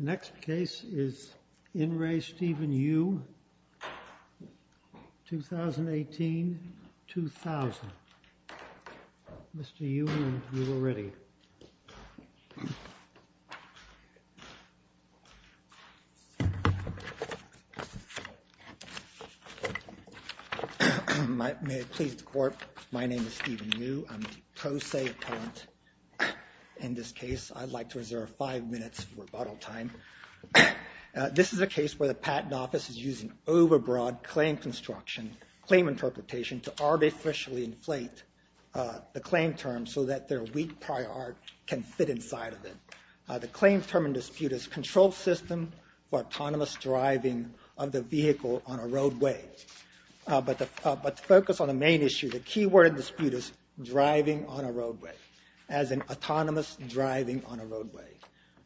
The next case is In Re Stephen Yu, 2018-2000. Mr. Yu, you are ready. May it please the Court, my name is Stephen Yu, I'm the Pro Se Appellant. In this case, I'd like to reserve five minutes for rebuttal time. This is a case where the Patent Office is using overbroad claim construction, claim interpretation to artificially inflate the claim term so that their weak prior art can fit inside of it. The claim term in dispute is control system for autonomous driving of the vehicle on a roadway. But to focus on the main issue, the key word in dispute is driving on a roadway, as in autonomous driving on a roadway.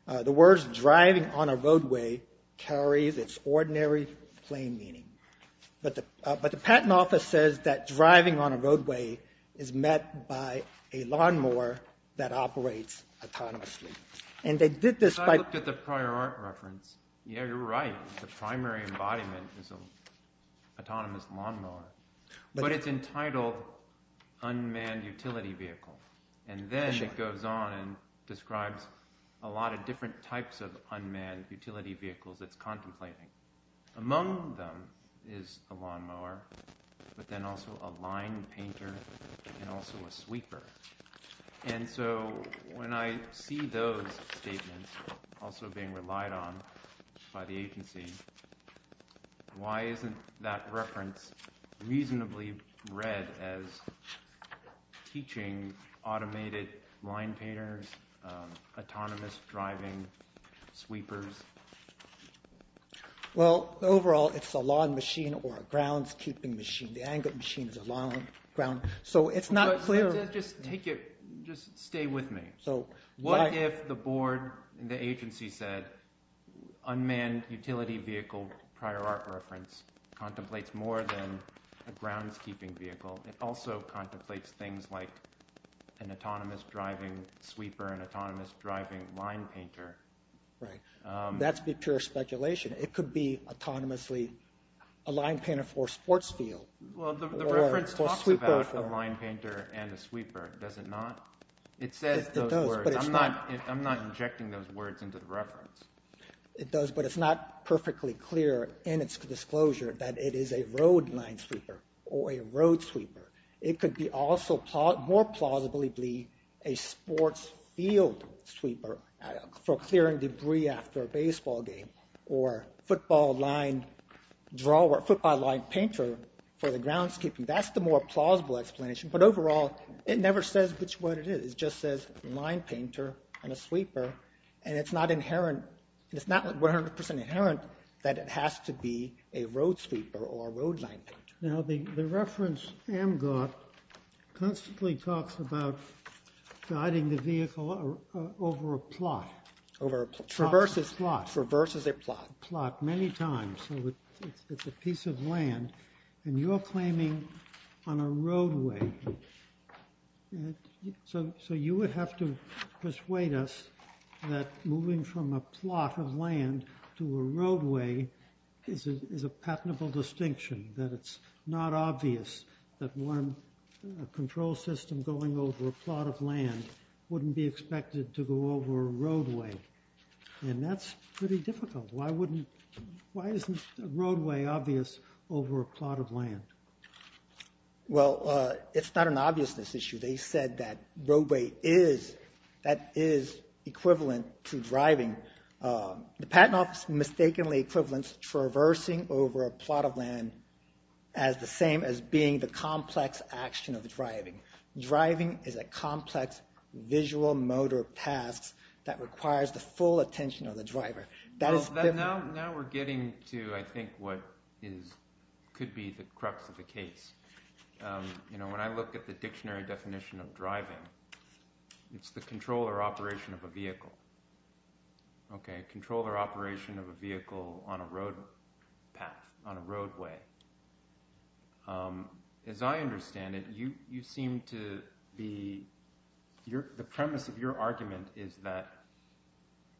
The words driving on a roadway carries its ordinary plain meaning. But the Patent Office says that driving on a roadway is met by a lawnmower that operates autonomously. And they did this by... Because I looked at the prior art reference. Yeah, you're right. The primary embodiment is an autonomous lawnmower. But it's entitled unmanned utility vehicle. And then it goes on and describes a lot of different types of unmanned utility vehicles it's contemplating. Among them is a lawnmower, but then also a line painter, and also a sweeper. And so when I see those statements also being relied on by the agency, why isn't that reference reasonably read as teaching automated line painters, autonomous driving, sweepers? Well, overall, it's a lawn machine or a groundskeeping machine. The angle machine is a lawn... So it's not clear... Just take it, just stay with me. So what if the board and the agency said, unmanned utility vehicle prior art reference contemplates more than a groundskeeping vehicle? It also contemplates things like an autonomous driving sweeper, an autonomous driving line painter. Right. That'd be pure speculation. It could be autonomously a line painter for a sports field. Well, the reference talks about a line painter and a sweeper, does it not? It says those words. It does, but it's not... I'm not injecting those words into the reference. It does, but it's not perfectly clear in its disclosure that it is a road line sweeper or a road sweeper. It could be also more plausibly a sports field sweeper for clearing debris after a baseball game or football line drawer, football line painter for the groundskeeping. That's the more plausible explanation. But overall, it never says which one it is. It just says line painter and a sweeper, and it's not 100% inherent that it has to be a road sweeper or a road line painter. Now, the reference AMGOT constantly talks about guiding the vehicle over a plot. Over a plot. Reverses plot. Reverses a plot. Plot many times. So it's a piece of land, and you're claiming on a roadway. So you would have to persuade us that moving from a plot of land to a roadway is a patentable distinction, that it's not obvious that one control system going over a plot of land wouldn't be expected to go over a roadway, and that's pretty difficult. Why isn't a roadway obvious over a plot of land? Well, it's not an obviousness issue. They said that roadway is, that is equivalent to driving. The Patent Office mistakenly equivalents traversing over a plot of land as the same as being the complex action of driving. Driving is a complex visual motor path that requires the full attention of the driver. Now we're getting to, I think, what could be the crux of the case. You know, when I look at the dictionary definition of driving, it's the control or operation of a vehicle. Okay? Control or operation of a vehicle on a road path, on a roadway. As I understand it, you seem to be, the premise of your argument is that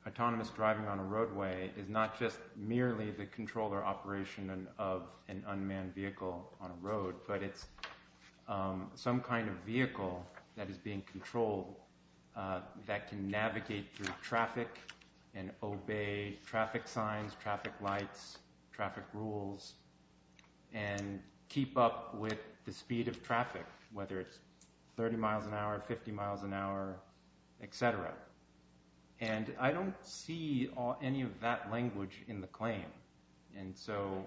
autonomous driving on a roadway is not just merely the control or operation of an unmanned vehicle on a road, but it's some kind of vehicle that is being controlled that can navigate through traffic and obey traffic signs, traffic lights, traffic rules, and keep up with the speed of traffic, whether it's 30 miles an hour, 50 miles an hour, etc. And I don't see any of that language in the claim. And so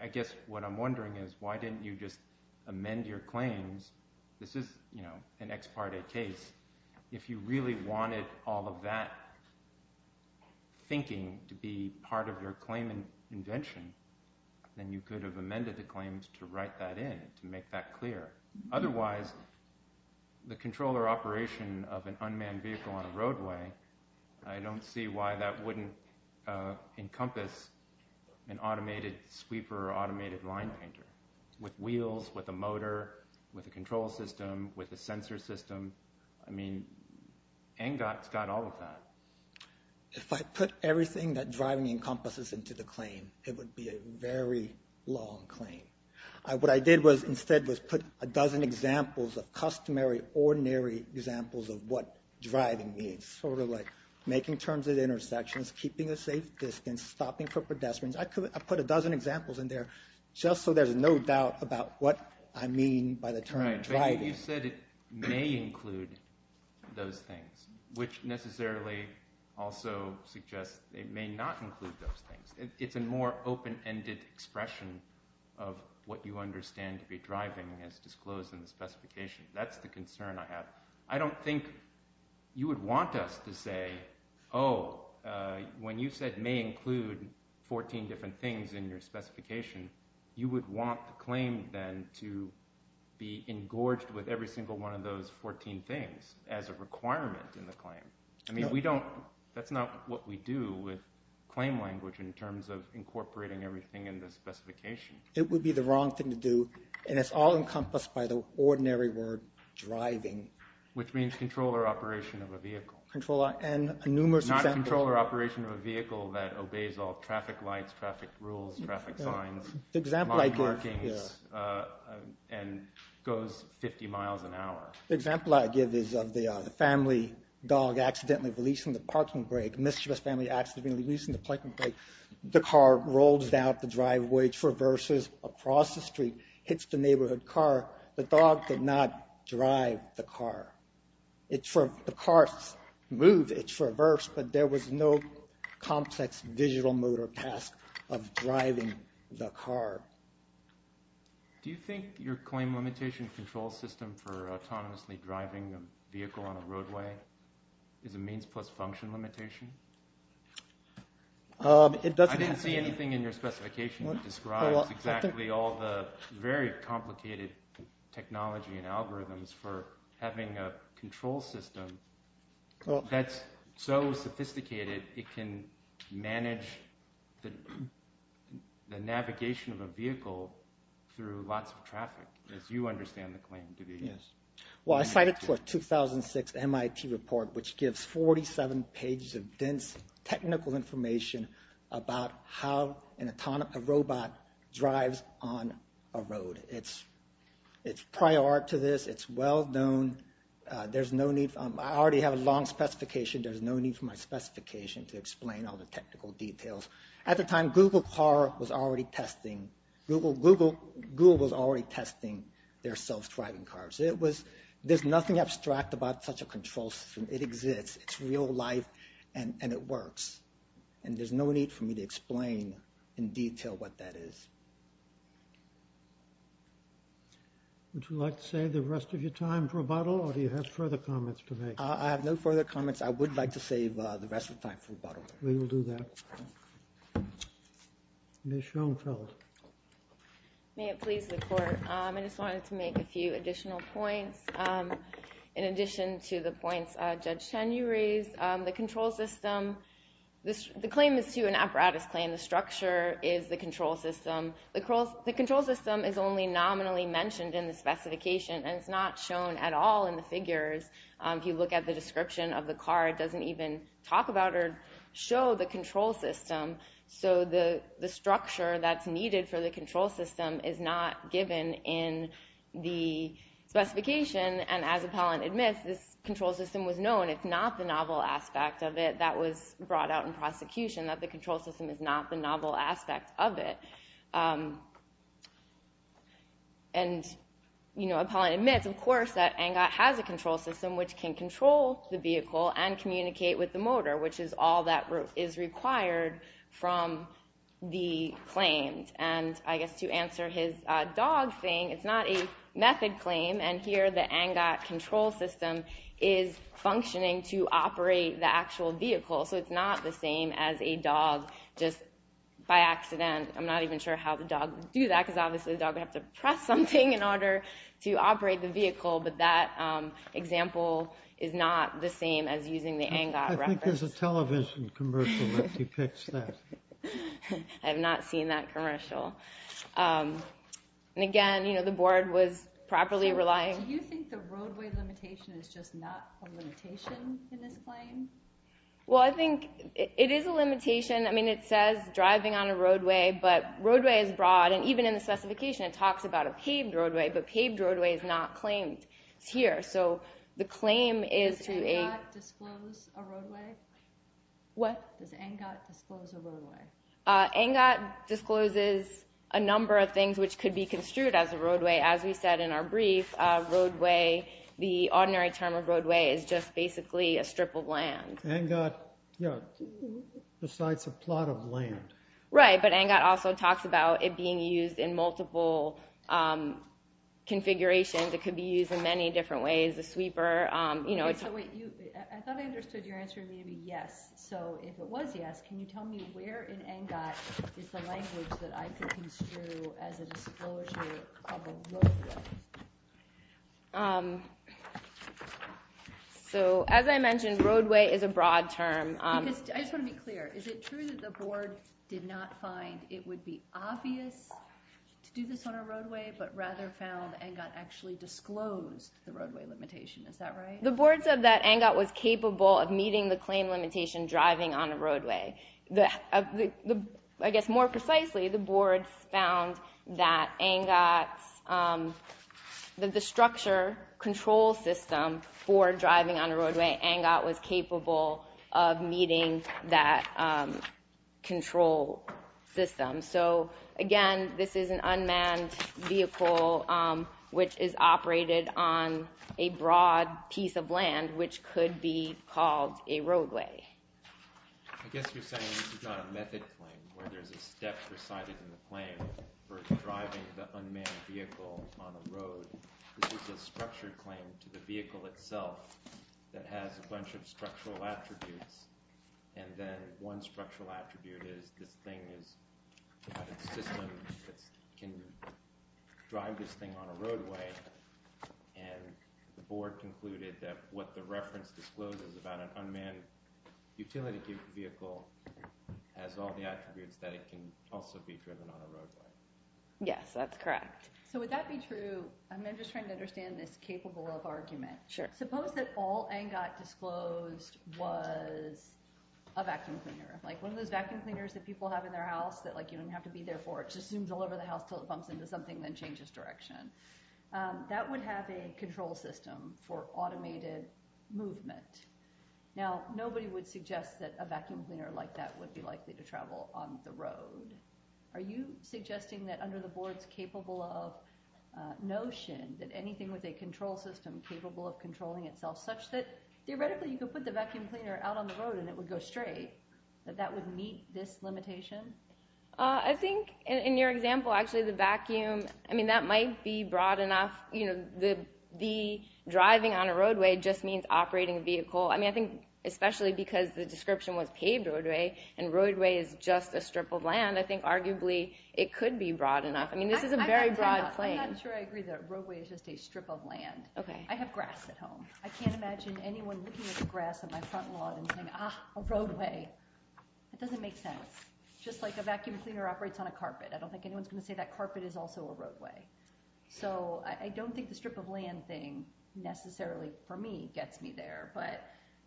I guess what I'm wondering is why didn't you just amend your claims? This is, you know, an ex parte case. If you really wanted all of that thinking to be part of your claim invention, then you could have amended the claims to write that in, to make that clear. Otherwise, the control or operation of an unmanned vehicle on a roadway, I don't see why that wouldn't encompass an automated sweeper or automated line painter. With wheels, with a motor, with a control system, with a sensor system, I mean, ANGOT's got all of that. If I put everything that driving encompasses into the claim, it would be a very long claim. What I did instead was put a dozen examples of customary, ordinary examples of what driving means, sort of like making turns at intersections, keeping a safe distance, stopping for pedestrians. I put a dozen examples in there just so there's no doubt about what I mean by the term driving. Right, but you said it may include those things, which necessarily also suggests it may not include those things. It's a more open-ended expression of what you understand to be driving as disclosed in the specification. That's the concern I have. I don't think you would want us to say, oh, when you said may include 14 different things in your specification, you would want the claim then to be engorged with every single one of those 14 things as a requirement in the claim. I mean, that's not what we do with claim language in terms of incorporating everything in the specification. It would be the wrong thing to do, and it's all encompassed by the ordinary word driving. Which means control or operation of a vehicle. Control and numerous examples. Control or operation of a vehicle that obeys all traffic lights, traffic rules, traffic signs, line markings, and goes 50 miles an hour. The example I give is of the family dog accidentally releasing the parking brake. Mischievous family accidentally releasing the parking brake. The car rolls out the driveway, traverses across the street, hits the neighborhood car. The dog could not drive the car. The car moved, it traversed, but there was no complex visual motor task of driving the car. Do you think your claim limitation control system for autonomously driving a vehicle on a roadway is a means plus function limitation? I didn't see anything in your specification that describes exactly all the very complicated technology and algorithms for having a control system that's so sophisticated it can manage the navigation of a vehicle through lots of traffic, as you understand the claim to be. Well, I cited a 2006 MIT report which gives 47 pages of dense technical information about how an autonomous robot drives on a road. It's prior to this. It's well known. There's no need. I already have a long specification. There's no need for my specification to explain all the technical details. At the time, Google was already testing their self-driving cars. There's nothing abstract about such a control system. It exists. It's real life, and it works. And there's no need for me to explain in detail what that is. Would you like to save the rest of your time for rebuttal, or do you have further comments to make? I have no further comments. I would like to save the rest of the time for rebuttal. We will do that. Ms. Schoenfeld. May it please the court. I just wanted to make a few additional points. In addition to the points Judge Chen, you raised, the claim is to an apparatus claim. The structure is the control system. The control system is only nominally mentioned in the specification, and it's not shown at all in the figures. If you look at the description of the car, it doesn't even talk about or show the control system. So the structure that's needed for the control system is not given in the specification. And as appellant admits, this control system was known. It's not the novel aspect of it that was brought out in prosecution, that the control system is not the novel aspect of it. And appellant admits, of course, that ANGOT has a control system which can control the vehicle and communicate with the motor, which is all that is required from the claims. And I guess to answer his dog thing, it's not a method claim, and here the ANGOT control system is functioning to operate the actual vehicle. So it's not the same as a dog just by accident. I'm not even sure how the dog would do that, because obviously the dog would have to press something in order to operate the vehicle, but that example is not the same as using the ANGOT reference. I think there's a television commercial that depicts that. I have not seen that commercial. And again, you know, the board was properly relying... Do you think the roadway limitation is just not a limitation in this claim? Well, I think it is a limitation. I mean, it says driving on a roadway, but roadway is broad, and even in the specification it talks about a paved roadway, but paved roadway is not claimed here. So the claim is to a... Does ANGOT disclose a roadway? What? Does ANGOT disclose a roadway? ANGOT discloses a number of things which could be construed as a roadway. As we said in our brief, roadway, the ordinary term of roadway, is just basically a strip of land. ANGOT, yeah, besides a plot of land. Right, but ANGOT also talks about it being used in multiple configurations. It could be used in many different ways, a sweeper, you know... Okay, so wait, I thought I understood your answer to maybe yes. So if it was yes, can you tell me where in ANGOT is the language that I could construe as a disclosure of a roadway? So as I mentioned, roadway is a broad term. I just want to be clear. Is it true that the board did not find it would be obvious to do this on a roadway, but rather found ANGOT actually disclosed the roadway limitation? Is that right? The board said that ANGOT was capable of meeting the claim limitation driving on a roadway. I guess more precisely, the board found that the structure control system for driving on a roadway, ANGOT was capable of meeting that control system. So again, this is an unmanned vehicle, which is operated on a broad piece of land, which could be called a roadway. I guess you're saying this is not a method claim, where there's a step presided in the claim for driving the unmanned vehicle on a road. This is a structured claim to the vehicle itself that has a bunch of structural attributes. And then one structural attribute is this thing is a system that can drive this thing on a roadway. And the board concluded that what the reference discloses about an unmanned utility vehicle has all the attributes that it can also be driven on a roadway. Yes, that's correct. So would that be true? I'm just trying to understand this capable of argument. Sure. Suppose that all ANGOT disclosed was a vacuum cleaner. Like one of those vacuum cleaners that people have in their house that you don't have to be there for. It just zooms all over the house until it bumps into something and then changes direction. That would have a control system for automated movement. Now, nobody would suggest that a vacuum cleaner like that would be likely to travel on the road. Are you suggesting that under the board's capable of notion that anything with a control system capable of controlling itself such that theoretically you could put the vacuum cleaner out on the road and it would go straight? That that would meet this limitation? I think in your example, actually, the vacuum, I mean, that might be broad enough. You know, the driving on a roadway just means operating a vehicle. I mean, I think especially because the description was paved roadway and roadway is just a strip of land, I think arguably it could be broad enough. I mean, this is a very broad claim. I'm not sure I agree that roadway is just a strip of land. I have grass at home. I can't imagine anyone looking at the grass of my front lawn and saying, ah, a roadway. It doesn't make sense. Just like a vacuum cleaner operates on a carpet. I don't think anyone's going to say that carpet is also a roadway. So I don't think the strip of land thing necessarily for me gets me there. But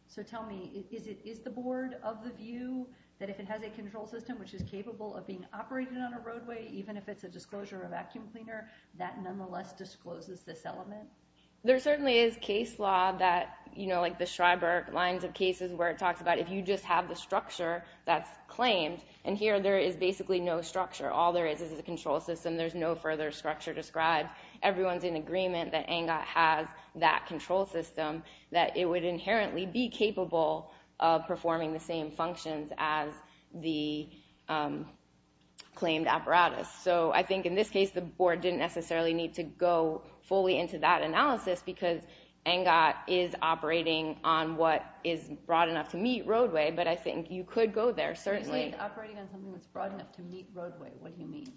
so tell me, is it is the board of the view that if it has a control system which is capable of being operated on a roadway, even if it's a disclosure of vacuum cleaner, that nonetheless discloses this element? There certainly is case law that, you know, like the Schreiber lines of cases where it talks about if you just have the structure that's claimed, and here there is basically no structure. All there is is a control system. There's no further structure described. Everyone's in agreement that ANGOT has that control system that it would inherently be capable of performing the same functions as the claimed apparatus. So I think in this case, the board didn't necessarily need to go fully into that analysis because ANGOT is operating on what is broad enough to meet roadway. But I think you could go there. Certainly operating on something that's broad enough to meet roadway. What do you mean?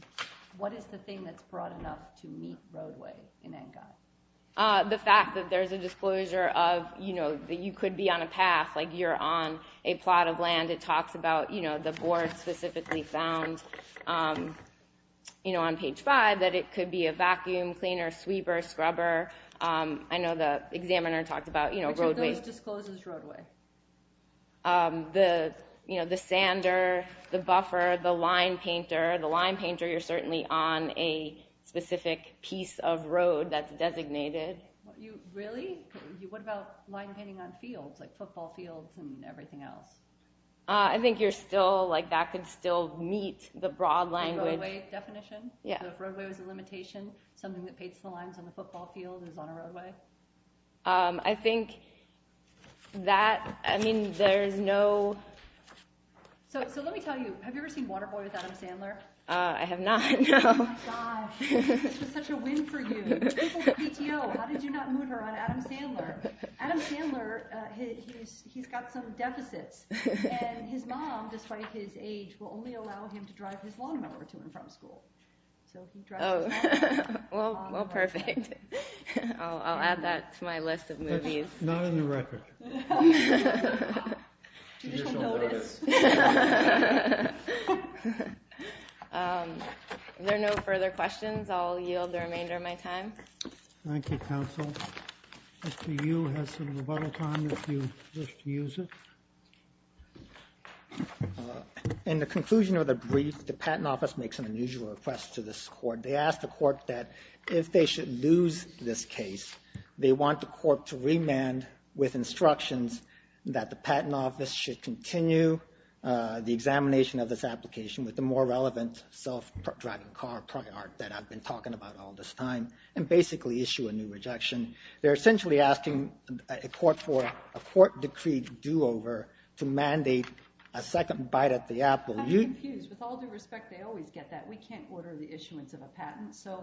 What is the thing that's broad enough to meet roadway in ANGOT? The fact that there's a disclosure of, you know, that you could be on a path, like you're on a plot of land. It talks about, you know, the board specifically found, you know, on page five that it could be a vacuum cleaner, sweeper, scrubber. I know the examiner talked about, you know, roadways. Which of those discloses roadway? The, you know, the sander, the buffer, the line painter. The line painter, you're certainly on a specific piece of road that's designated. Really? What about line painting on fields, like football fields and everything else? I think you're still, like, that could still meet the broad language. The roadway definition? Yeah. So if roadway was a limitation, something that paints the lines on the football field is on a roadway? I think that, I mean, there's no. So let me tell you, have you ever seen Waterboy with Adam Sandler? I have not. Oh my gosh. This was such a win for you. People at PTO, how did you not moon her on Adam Sandler? Adam Sandler, he's got some deficits. And his mom, despite his age, will only allow him to drive his lawnmower to and from school. So he drives his lawnmower. Well, perfect. I'll add that to my list of movies. That's not in the record. You just don't notice. If there are no further questions, I'll yield the remainder of my time. Thank you, counsel. Mr. Yu has some rebuttal time if you wish to use it. In the conclusion of the brief, the Patent Office makes an unusual request to this Court. They ask the Court that if they should lose this case, they want the Court to remand with instructions that the Patent Office should continue the examination of this application with the more relevant self-driving car prior that I've been talking about all this time and basically issue a new rejection. They're essentially asking a court for a court-decreed do-over to mandate a second bite at the apple. I'm confused. With all due respect, they always get that. We can't order the issuance of a patent. So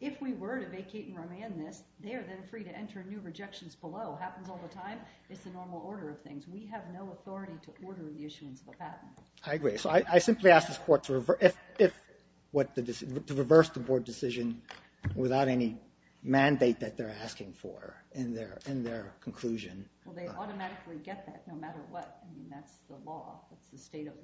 if we were to vacate and remand this, they are then free to enter new rejections below. It happens all the time. It's the normal order of things. We have no authority to order the issuance of a patent. I agree. So I simply ask this Court to reverse the Board decision without any mandate that they're asking for in their conclusion. Well, they automatically get that no matter what. I mean, that's the law. That's the state of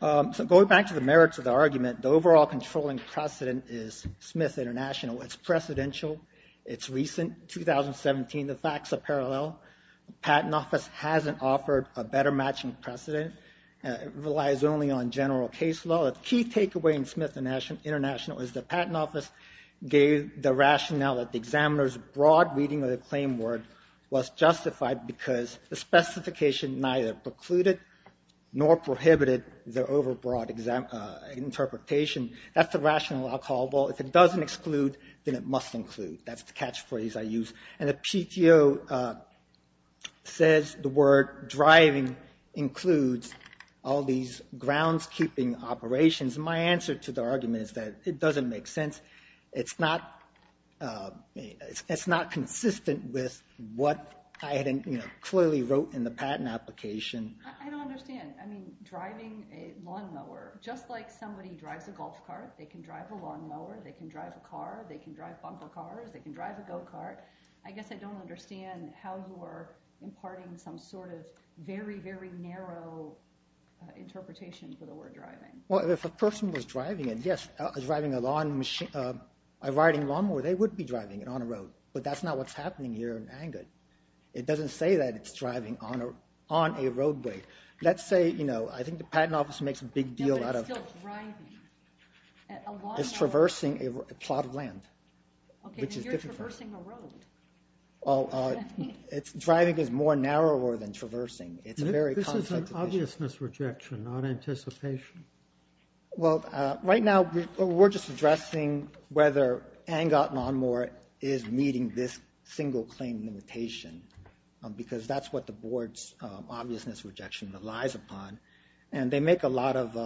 the law. So going back to the merits of the argument, the overall controlling precedent is Smith International. It's precedential. It's recent, 2017. The facts are parallel. The Patent Office hasn't offered a better matching precedent. It relies only on general case law. The key takeaway in Smith International is the Patent Office gave the rationale that the examiner's broad reading of the claim word was justified because the specification neither precluded nor prohibited the overbroad interpretation. That's the rationale I'll call. Well, if it doesn't exclude, then it must include. That's the catchphrase I use. And the PTO says the word driving includes all these groundskeeping operations. My answer to the argument is that it doesn't make sense. It's not consistent with what I clearly wrote in the patent application. I don't understand. I mean, driving a lawnmower, just like somebody drives a golf cart, they can drive a lawnmower, they can drive a car, they can drive bumper cars, they can drive a go-kart. I guess I don't understand how you are imparting some sort of very, very narrow interpretation for the word driving. Well, if a person was driving a lawnmower, they would be driving it on a road. But that's not what's happening here in Angert. It doesn't say that it's driving on a roadway. Let's say, you know, I think the Patent Office makes a big deal out of it. No, but it's still driving. It's traversing a plot of land. Okay, but you're traversing a road. Driving is more narrower than traversing. This is an obviousness rejection, not anticipation. Well, right now we're just addressing whether Angert Lawnmower is meeting this single claim limitation, because that's what the Board's obviousness rejection relies upon. And they make a lot of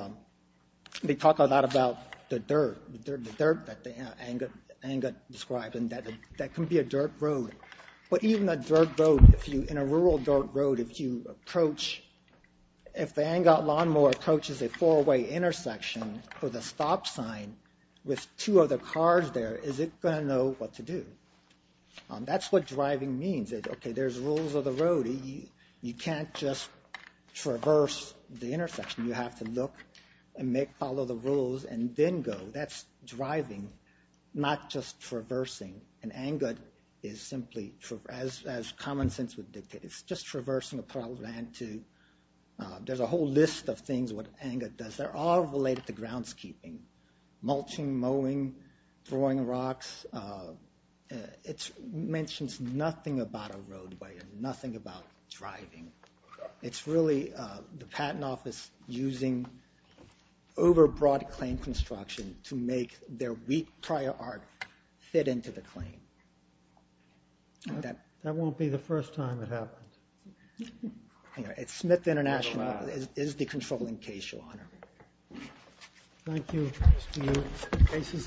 they talk a lot about the dirt, the dirt that Angert described, and that can be a dirt road. But even a dirt road, in a rural dirt road, if you approach, if the Angert Lawnmower approaches a four-way intersection with a stop sign with two other cars there, is it going to know what to do? That's what driving means. Okay, there's rules of the road. You can't just traverse the intersection. You have to look and follow the rules and then go. That's driving, not just traversing. And Angert is simply, as common sense would dictate, it's just traversing a plot of land. There's a whole list of things what Angert does. They're all related to groundskeeping, mulching, mowing, throwing rocks. It mentions nothing about a roadway and nothing about driving. It's really the Patent Office using overbroad claim construction to make their weak prior art fit into the claim. That won't be the first time it happens. It's Smith International. It is the controlling case, Your Honor. Thank you. The case is submitted.